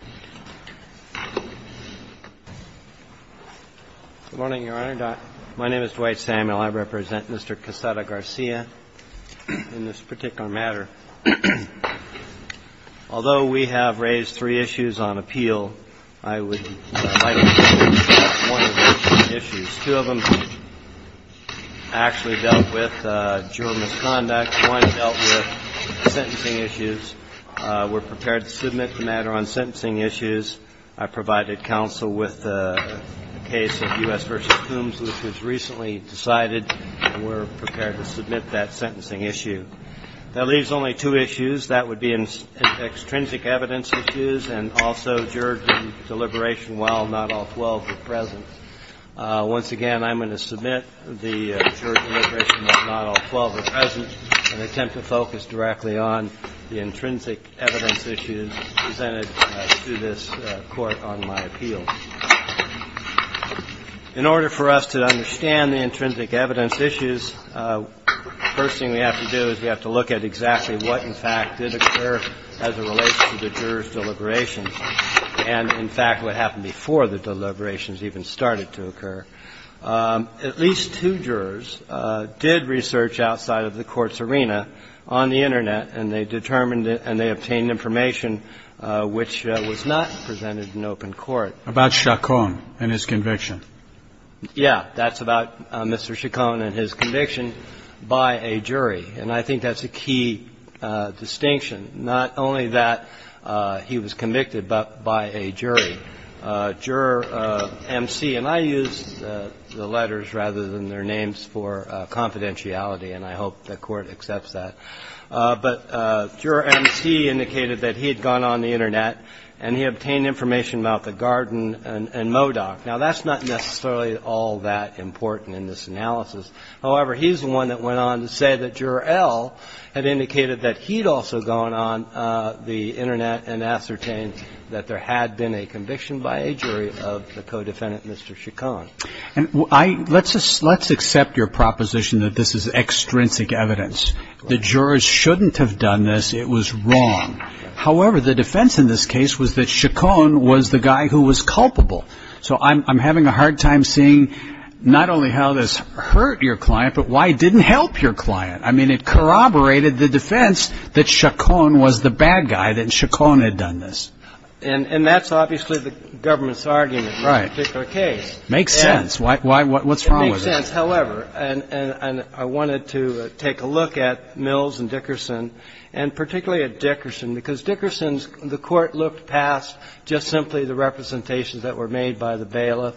Good morning, Your Honor. My name is Dwight Samuel. I represent Mr. Quesada-Garcia in this particular matter. Although we have raised three issues on appeal, I would like to address one of those issues. Two of them actually dealt with juror misconduct. One dealt with sentencing issues. I provided counsel with a case of U.S. v. Coombs, which was recently decided, and we're prepared to submit that sentencing issue. That leaves only two issues. That would be extrinsic evidence issues and also jury deliberation while not all 12 are present. Once again, I'm going to submit the jury deliberation while not all 12 are present, and I will focus directly on the intrinsic evidence issues presented to this Court on my appeal. In order for us to understand the intrinsic evidence issues, first thing we have to do is we have to look at exactly what, in fact, did occur as it relates to the juror's deliberations and, in fact, what happened before the deliberations even started to occur. At least two jurors did research outside of the Court's arena on the Internet and they determined it and they obtained information which was not presented in open court. About Chacon and his conviction. Yeah. That's about Mr. Chacon and his conviction by a jury. And I think that's a key distinction, not only that he was convicted, but by a jury. Juror M.C. and I know they use the letters rather than their names for confidentiality, and I hope the Court accepts that. But Juror M.C. indicated that he had gone on the Internet and he obtained information about the Garden and MODOC. Now, that's not necessarily all that important in this analysis. However, he's the one that went on to say that Juror L. had indicated that he'd also gone on the Internet and ascertained that there had been a conviction by a jury of the co-defendant, Mr. Chacon. Let's accept your proposition that this is extrinsic evidence. The jurors shouldn't have done this. It was wrong. However, the defense in this case was that Chacon was the guy who was culpable. So I'm having a hard time seeing not only how this hurt your client, but why it didn't help your client. I mean, it corroborated the defense that Chacon was the bad guy, that Chacon had done this. And that's obviously the government's argument in this particular case. Right. Makes sense. What's wrong with it? It makes sense. However, and I wanted to take a look at Mills and Dickerson, and particularly at Dickerson, because Dickerson's court looked past just simply the representations that were made by the bailiff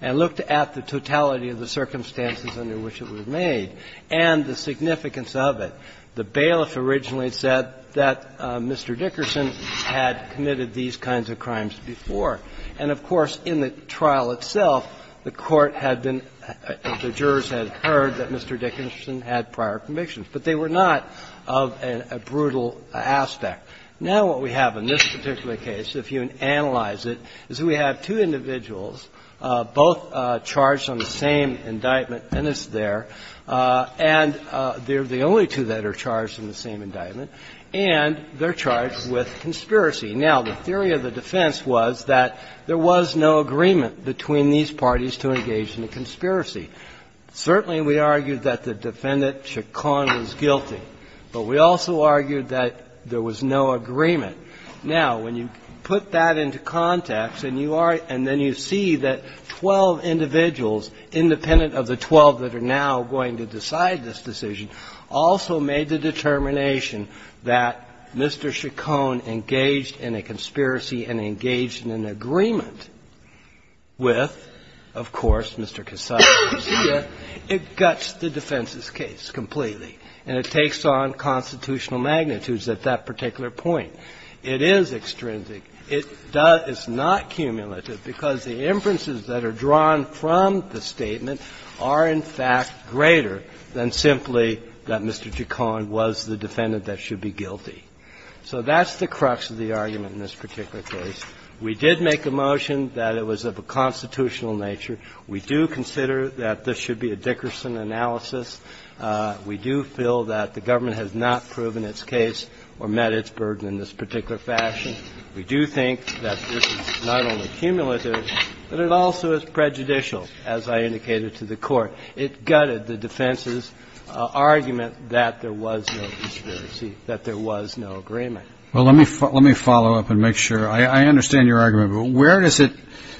and looked at the totality of the circumstances under which it was made and the significance of it. The bailiff originally said that Mr. Dickerson had committed these kinds of crimes before. And, of course, in the trial itself, the court had been, the jurors had heard that Mr. Dickerson had prior convictions, but they were not of a brutal aspect. Now what we have in this particular case, if you analyze it, is we have two individuals, both charged on the same indictment, and it's there, and they're the only two that are charged on the same indictment, and they're charged with conspiracy. Now, the theory of the defense was that there was no agreement between these parties to engage in a conspiracy. Certainly we argued that the defendant, Chacon, was guilty, but we also argued that there was no agreement. Now, when you put that into context, and you are, and then you see that 12 individuals, independent of the 12 that are now going to decide this decision, also made the determination that Mr. Chacon engaged in a conspiracy and engaged in an agreement with, of course, Mr. Cassata and Lucia, it guts the defense's case completely, and it takes on constitutional magnitudes at that particular point. It is extrinsic. It does not cumulative, because the inferences that are drawn from the statement are, in fact, greater than simply that Mr. Chacon was the defendant that should be guilty. So that's the crux of the argument in this particular case. We did make a motion that it was of a constitutional nature. We do consider that this should be a Dickerson analysis. We do feel that the government has not proven its case or met its burden in this particular fashion. We do think that this is not only cumulative, but it also is prejudicial, as I indicated to the Court. It gutted the defense's argument that there was no conspiracy, that there was no agreement. Well, let me follow up and make sure. I understand your argument, but where does it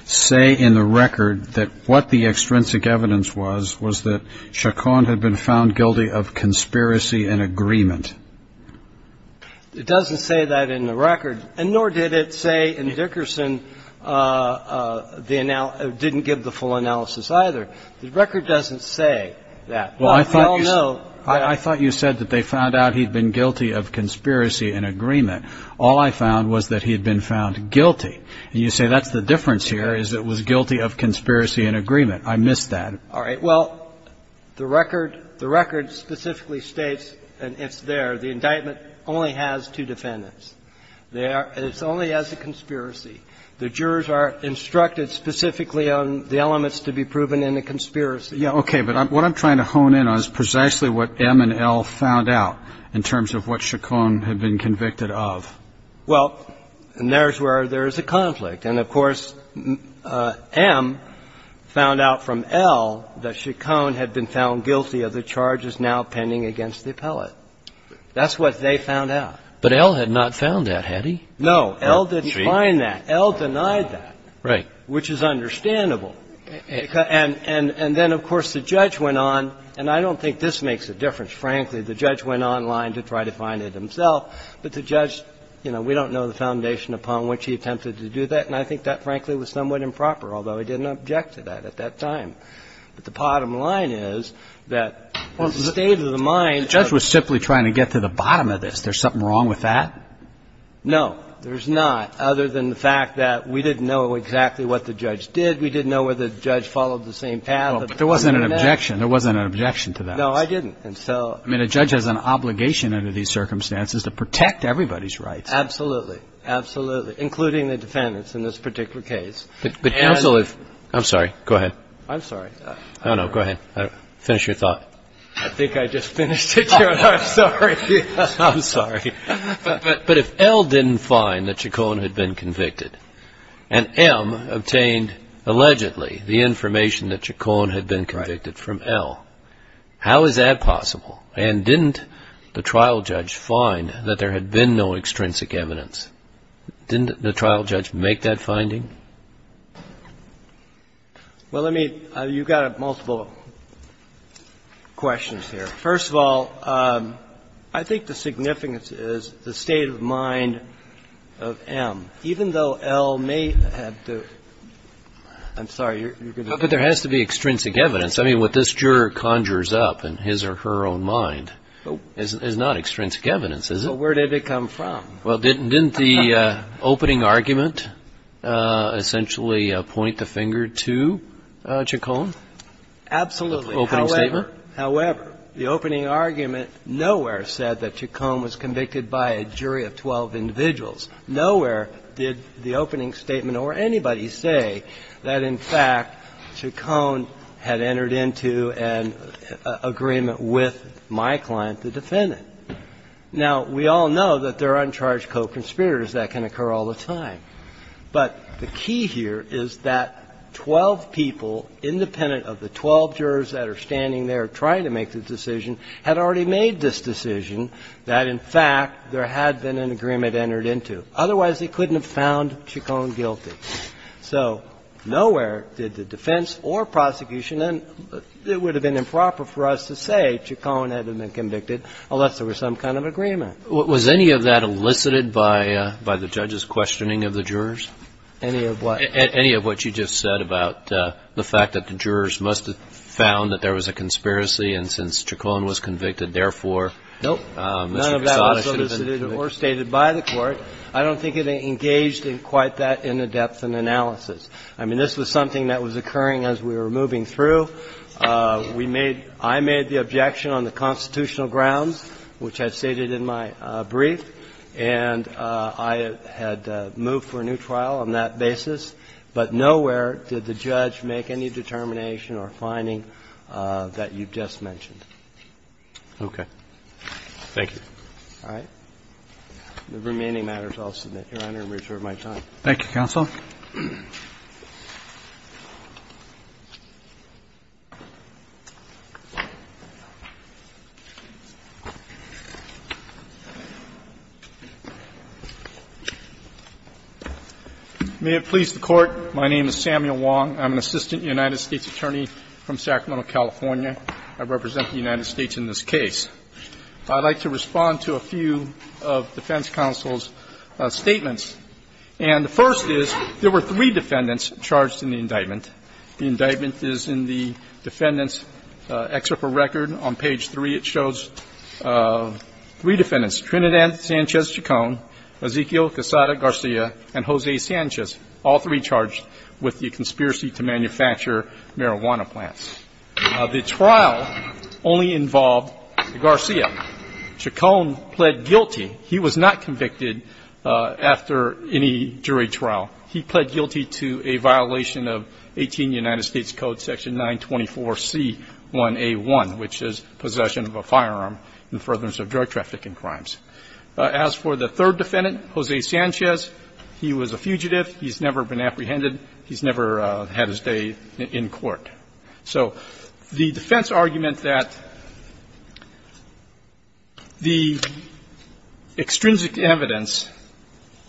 say in the record that what the extrinsic evidence was, was that Chacon had been found guilty of conspiracy and agreement? It doesn't say that in the record, and nor did it say in Dickerson, didn't give the full analysis either. The record doesn't say that. Well, I thought you said that they found out he'd been guilty of conspiracy and agreement. All I found was that he had been found guilty. And you say that's the difference here, is it was guilty of conspiracy and agreement. I missed that. All right. Well, the record specifically states, and it's there, the indictment only has two defendants. It's only as a conspiracy. The jurors are instructed specifically on the elements to be proven in a conspiracy. Okay. But what I'm trying to hone in on is precisely what M and L found out in terms of what Chacon had been convicted of. Well, and there's where there's a conflict. And, of course, M found out from L that Chacon had been found guilty of the charges now pending against the appellate. That's what they found out. But L had not found that, had he? No. L didn't find that. L denied that. Right. Which is understandable. And then, of course, the judge went on, and I don't think this makes a difference, frankly. The judge went online to try to find it himself. But the judge, you know, we don't know the foundation upon which he attempted to do that, and I think that, frankly, was somewhat improper, although he didn't object to that at that time. But the bottom line is that the state of the mind of the judge was simply trying to get to the bottom of this. There's something wrong with that? No, there's not, other than the fact that we didn't know exactly what the judge did. We didn't know whether the judge followed the same path. But there wasn't an objection. There wasn't an objection to that. No, I didn't. And so — I mean, a judge has an obligation under these circumstances to protect everybody's rights. Absolutely. Absolutely. Including the defendants in this particular case. But also if — I'm sorry. Go ahead. I'm sorry. Oh, no, go ahead. Finish your thought. I think I just finished it, Your Honor. I'm sorry. I'm sorry. But if L didn't find that Chacon had been convicted, and M obtained, allegedly, the information that Chacon had been convicted from L, how is that possible? And didn't the trial judge find that there had been no extrinsic evidence? Didn't the trial judge make that finding? Well, let me — you've got multiple questions here. First of all, I think the significance is the state of mind of M. Even though L may have the — I'm sorry, you're going to — But there has to be extrinsic evidence. I mean, what this juror conjures up in his or her own mind is not extrinsic evidence, is it? Well, where did it come from? Well, didn't the opening argument essentially point the finger to Chacon? Absolutely. The opening statement? However, the opening argument nowhere said that Chacon was convicted by a jury of 12 individuals. Nowhere did the opening statement or anybody say that, in fact, Chacon had entered into an agreement with my client, the defendant. Now, we all know that there are uncharged co-conspirators. That can occur all the time. But the key here is that 12 people, independent of the 12 jurors that are standing there trying to make the decision, had already made this decision that, in fact, there had been an agreement entered into. Otherwise, they couldn't have found Chacon guilty. So nowhere did the defense or prosecution — and it would have been improper for us to say Chacon hadn't been convicted unless there was some kind of agreement. Was any of that elicited by the judge's questioning of the jurors? Any of what? Any of what you just said about the fact that the jurors must have found that there was a conspiracy, and since Chacon was convicted, therefore, Mr. Casale should have been acquitted. I don't think it was elicited or stated by the Court. I don't think it engaged in quite that in the depth and analysis. I mean, this was something that was occurring as we were moving through. We made — I made the objection on the constitutional grounds, which I stated in my brief, and I had moved for a new trial on that basis. But nowhere did the judge make any determination or finding that you've just mentioned. Okay. Thank you. All right. The remaining matters I'll submit, Your Honor, and reserve my time. Thank you, counsel. May it please the Court. My name is Samuel Wong. I'm an assistant United States attorney from Sacramento, California. I represent the United States in this case. I'd like to respond to a few of defense counsel's statements. And the first is, there were three defendants charged in the indictment. The indictment is in the defendant's excerpt of record on page 3. It shows three defendants, Trinidad Sanchez-Chacon, Ezequiel Quesada-Garcia, and Jose Sanchez, all three charged with the conspiracy to manufacture marijuana plants. The trial only involved Garcia. Chacon pled guilty. He was not convicted after any jury trial. He pled guilty to a violation of 18 United States Code section 924C1A1, which is possession of a firearm in furtherance of drug trafficking crimes. As for the third defendant, Jose Sanchez, he was a fugitive. He's never been apprehended. He's never had his day in court. So the defense argument that the extrinsic evidence,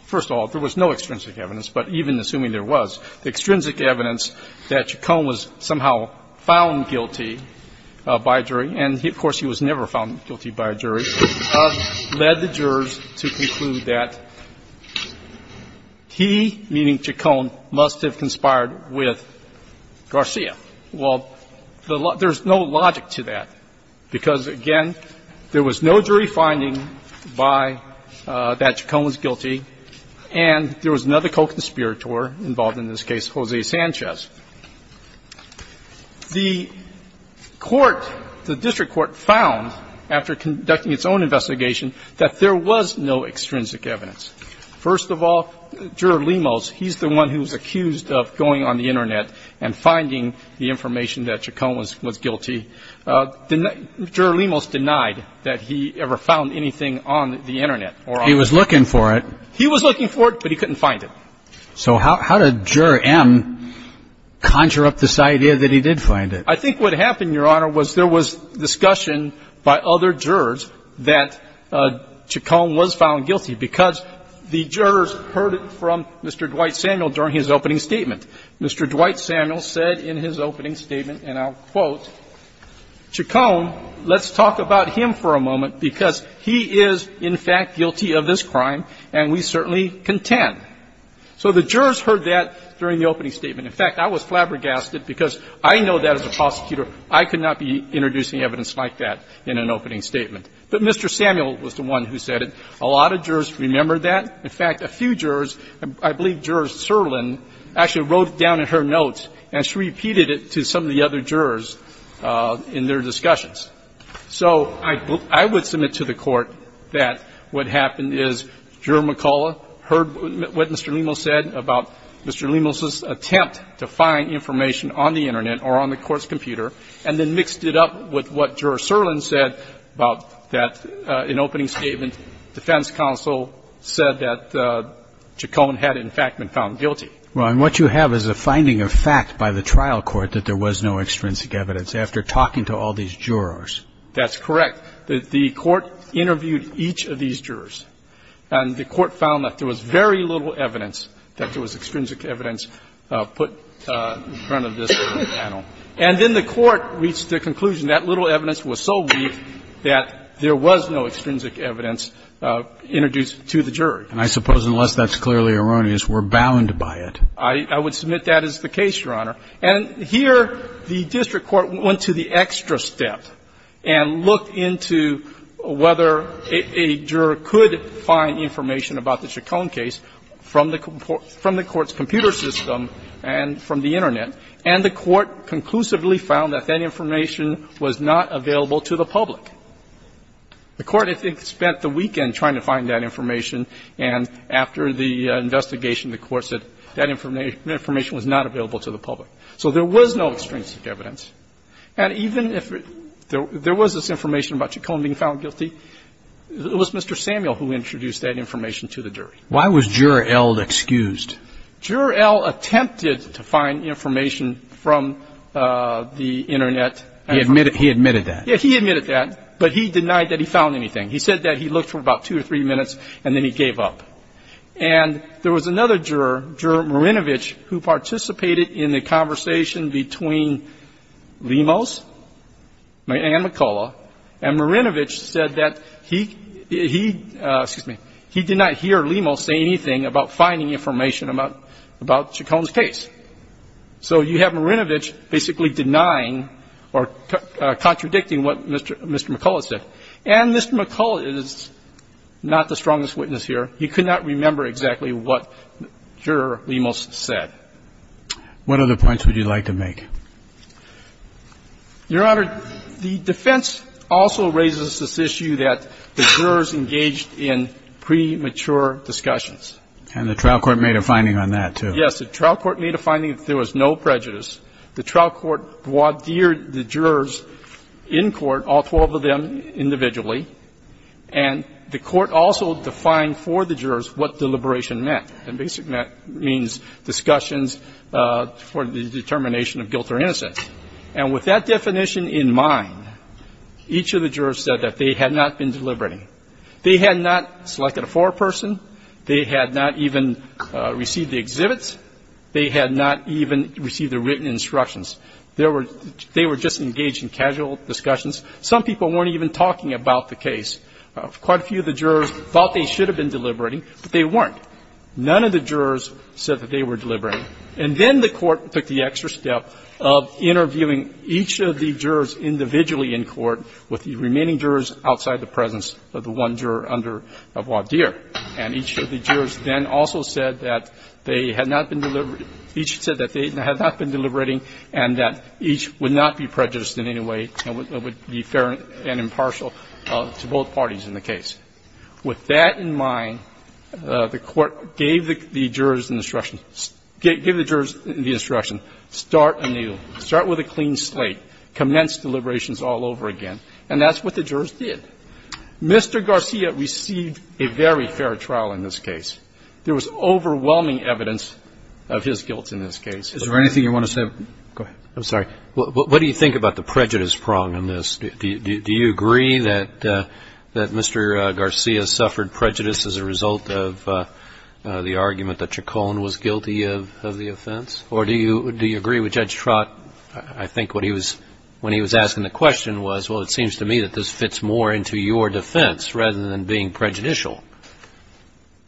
first of all, there was no extrinsic evidence, but even assuming there was, the extrinsic evidence that Chacon was somehow found guilty by a jury, and, of course, he was never found guilty by a jury, led the jurors to conclude that he, meaning Chacon, must have conspired with Garcia. Well, there's no logic to that, because, again, there was no jury finding by that Chacon was guilty, and there was another co-conspirator involved in this case, Jose Sanchez. The court, the district court, found, after conducting its own investigation, that there was no extrinsic evidence. First of all, Juror Lemos, he's the one who was accused of going on the Internet and finding the information that Chacon was guilty. Juror Lemos denied that he ever found anything on the Internet. He was looking for it. He was looking for it, but he couldn't find it. So how did Juror M conjure up this idea that he did find it? I think what happened, Your Honor, was there was discussion by other jurors that Chacon was found guilty, because the jurors heard it from Mr. Dwight Samuel during his opening statement. Mr. Dwight Samuel said in his opening statement, and I'll quote, "...Chacon, let's talk about him for a moment, because he is, in fact, guilty of this crime, and we certainly contend." So the jurors heard that during the opening statement. In fact, I was flabbergasted, because I know that as a prosecutor, I could not be introducing evidence like that in an opening statement. But Mr. Samuel was the one who said it. A lot of jurors remember that. In fact, a few jurors, I believe Juror Serlin actually wrote it down in her notes, and she repeated it to some of the other jurors in their discussions. So I would submit to the Court that what happened is Juror McCullough heard what Mr. Lemos said about Mr. Lemos's attempt to find information on the Internet or on the Court's computer, and then mixed it up with what Juror Serlin said about that in opening statement, defense counsel said that Chacon had, in fact, been found guilty. Roberts. And what you have is a finding of fact by the trial court that there was no extrinsic evidence after talking to all these jurors. That's correct. The Court interviewed each of these jurors, and the Court found that there was very little evidence that there was extrinsic evidence put in front of this panel. And then the Court reached the conclusion that little evidence was so weak that there was no extrinsic evidence introduced to the jury. And I suppose, unless that's clearly erroneous, we're bound by it. I would submit that is the case, Your Honor. And here the district court went to the extra step and looked into whether a juror could find information about the Chacon case from the Court's computer system and from the Internet, and the Court conclusively found that that information was not available to the public. The Court, I think, spent the weekend trying to find that information, and after the investigation, the Court said that information was not available to the public. So there was no extrinsic evidence. And even if there was this information about Chacon being found guilty, it was Mr. Samuel who introduced that information to the jury. Why was Juror L excused? Juror L attempted to find information from the Internet. He admitted that? Yeah, he admitted that, but he denied that he found anything. He said that he looked for about two or three minutes, and then he gave up. And there was another juror, Juror Marinovich, who participated in the conversation between Lemos and McCullough, and Marinovich said that he did not hear Lemos say anything about finding information about Chacon's case. So you have Marinovich basically denying or contradicting what Mr. McCullough said. And Mr. McCullough is not the strongest witness here. He could not remember exactly what Juror Lemos said. What other points would you like to make? Your Honor, the defense also raises this issue that the jurors engaged in premature discussions. And the trial court made a finding on that, too. Yes, the trial court made a finding that there was no prejudice. The trial court vaudeered the jurors in court, all 12 of them individually. And the court also defined for the jurors what deliberation meant. And basically that means discussions for the determination of guilt or innocence. And with that definition in mind, each of the jurors said that they had not been deliberating. They had not selected a foreperson. They had not even received the exhibits. They had not even received the written instructions. They were just engaged in casual discussions. Some people weren't even talking about the case. Quite a few of the jurors thought they should have been deliberating, but they weren't. None of the jurors said that they were deliberating. And then the court took the extra step of interviewing each of the jurors individually in court with the remaining jurors outside the presence of the one jury. And each of the jurors then also said that they had not been deliberating and that each would not be prejudiced in any way and would be fair and impartial to both parties in the case. With that in mind, the court gave the jurors instruction, gave the jurors the instruction, start anew. Start with a clean slate. Commence deliberations all over again. And that's what the jurors did. Mr. Garcia received a very fair trial in this case. There was overwhelming evidence of his guilt in this case. Is there anything you want to say? Go ahead. I'm sorry. What do you think about the prejudice prong in this? Do you agree that Mr. Garcia suffered prejudice as a result of the argument that Chacon was guilty of the offense? Or do you agree with Judge Trott? I think when he was asking the question was, well, it seems to me that this fits more into your defense rather than being prejudicial.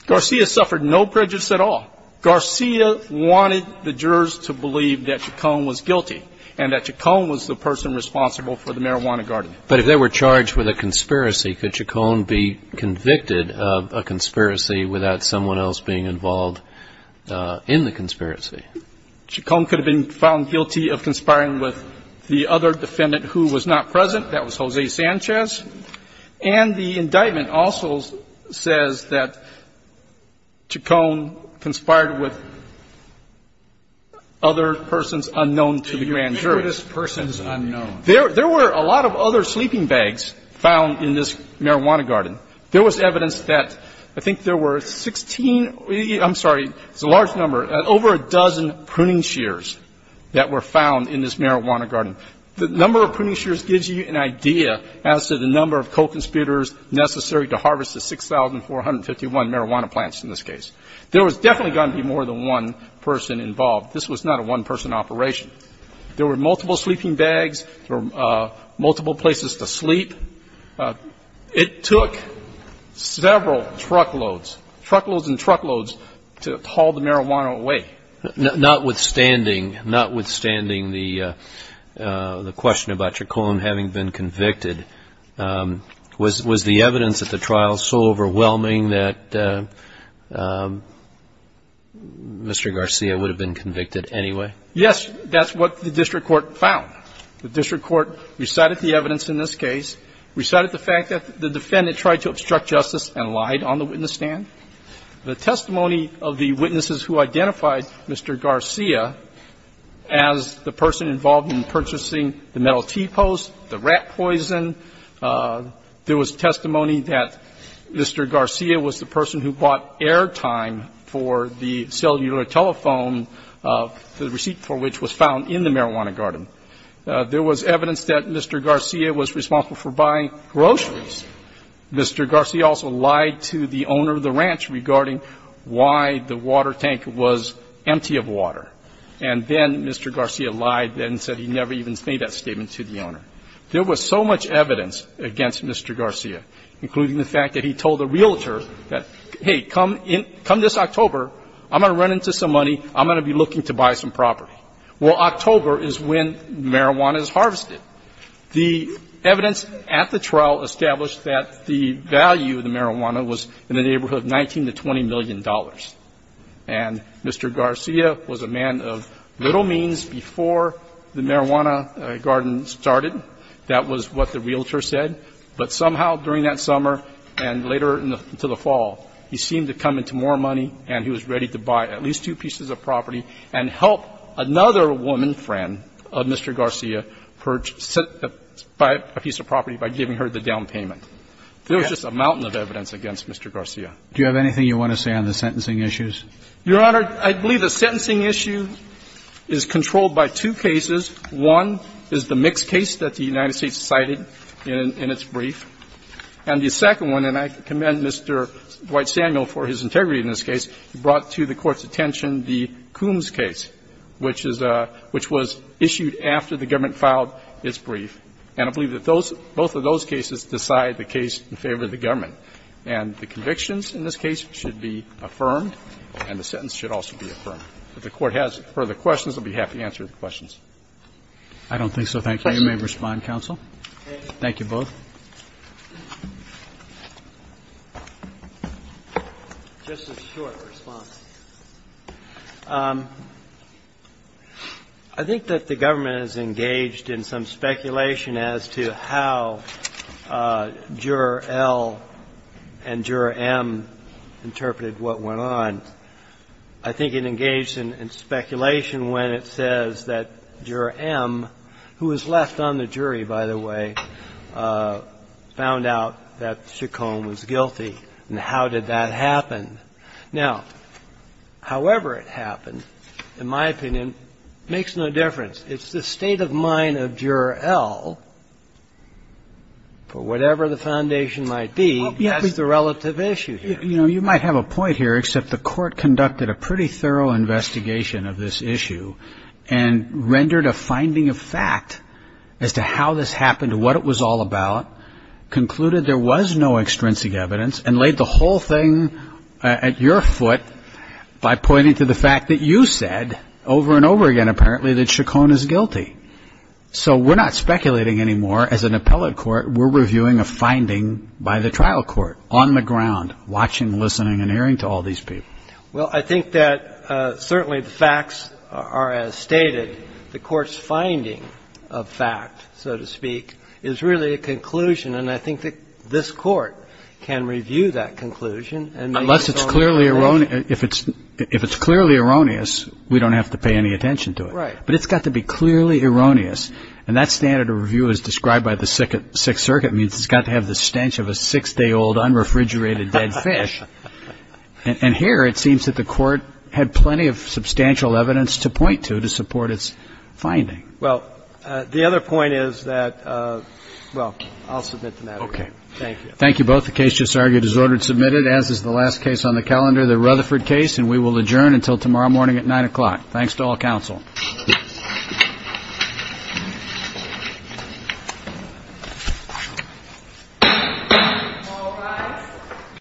Garcia suffered no prejudice at all. Garcia wanted the jurors to believe that Chacon was guilty and that Chacon was the person responsible for the marijuana garden. But if they were charged with a conspiracy, could Chacon be convicted of a conspiracy without someone else being involved in the conspiracy? Chacon could have been found guilty of conspiring with the other defendant who was not present. That was Jose Sanchez. And the indictment also says that Chacon conspired with other persons unknown to the grand jury. The greatest persons unknown. There were a lot of other sleeping bags found in this marijuana garden. There was evidence that I think there were 16 ‑‑ I'm sorry, it's a large number, over a dozen pruning shears that were found in this marijuana garden. The number of pruning shears gives you an idea as to the number of co‑conspirators necessary to harvest the 6,451 marijuana plants in this case. There was definitely going to be more than one person involved. This was not a one‑person operation. There were multiple sleeping bags. There were multiple places to sleep. It took several truckloads, truckloads and truckloads, to haul the marijuana away. Notwithstanding, notwithstanding the question about Chacon having been convicted, was the evidence at the trial so overwhelming that Mr. Garcia would have been convicted anyway? Yes, that's what the district court found. The district court recited the evidence in this case, recited the fact that the defendant tried to obstruct justice and lied on the witness stand. The testimony of the witnesses who identified Mr. Garcia as the person involved in purchasing the metal T‑post, the rat poison, there was testimony that Mr. Garcia was the person who bought airtime for the cellular telephone, the receipt for which was found in the marijuana garden. There was evidence that Mr. Garcia was responsible for buying groceries. Mr. Garcia also lied to the owner of the ranch regarding why the water tank was empty of water. And then Mr. Garcia lied and said he never even made that statement to the owner. There was so much evidence against Mr. Garcia, including the fact that he told the realtor that, hey, come this October, I'm going to run into some money, I'm going to be looking to buy some property. Well, October is when marijuana is harvested. The evidence at the trial established that the value of the marijuana was in the neighborhood of $19 to $20 million. And Mr. Garcia was a man of little means before the marijuana garden started. That was what the realtor said. But somehow during that summer and later into the fall, he seemed to come into more money and he was ready to buy at least two pieces of property and help another woman friend of Mr. Garcia purchase a piece of property by giving her the down payment. There was just a mountain of evidence against Mr. Garcia. Do you have anything you want to say on the sentencing issues? Your Honor, I believe the sentencing issue is controlled by two cases. One is the mixed case that the United States cited in its brief. And the second one, and I commend Mr. Dwight Samuel for his integrity in this case, brought to the Court's attention the Coombs case, which was issued after the government filed its brief. And I believe that both of those cases decide the case in favor of the government. And the convictions in this case should be affirmed and the sentence should also be affirmed. If the Court has further questions, I'll be happy to answer the questions. I don't think so. Thank you. You may respond, counsel. Thank you both. Just a short response. I think that the government is engaged in some speculation as to how Juror L and Juror M interpreted what went on. I think it engaged in speculation when it says that Juror M, who was left on the jury, by the way, found out that Chaconne was guilty. And how did that happen? Now, however it happened, in my opinion, makes no difference. It's the state of mind of Juror L, for whatever the foundation might be, that's the relative issue here. You know, you might have a point here, except the Court conducted a pretty thorough investigation of this issue and rendered a finding of fact as to how this happened, what it was all about, concluded there was no extrinsic evidence, and laid the whole thing at your foot by pointing to the fact that you said over and over again, apparently, that Chaconne is guilty. So we're not speculating anymore. As an appellate court, we're reviewing a finding by the trial court on the ground, watching, listening, and hearing to all these people. Well, I think that certainly the facts are as stated. The Court's finding of fact, so to speak, is really a conclusion, and I think that this Court can review that conclusion and make its own conclusion. Unless it's clearly erroneous. If it's clearly erroneous, we don't have to pay any attention to it. Right. But it's got to be clearly erroneous, and that standard of review as described by the Sixth Circuit means it's got to have the stench of a six-day-old, unrefrigerated dead fish. And here, it seems that the Court had plenty of substantial evidence to point to to support its finding. Well, the other point is that, well, I'll submit to that. Okay. Thank you. Thank you both. The case just argued is ordered submitted, as is the last case on the calendar, the Rutherford case, and we will adjourn until tomorrow morning at 9 o'clock. Thanks to all counsel. Thank you.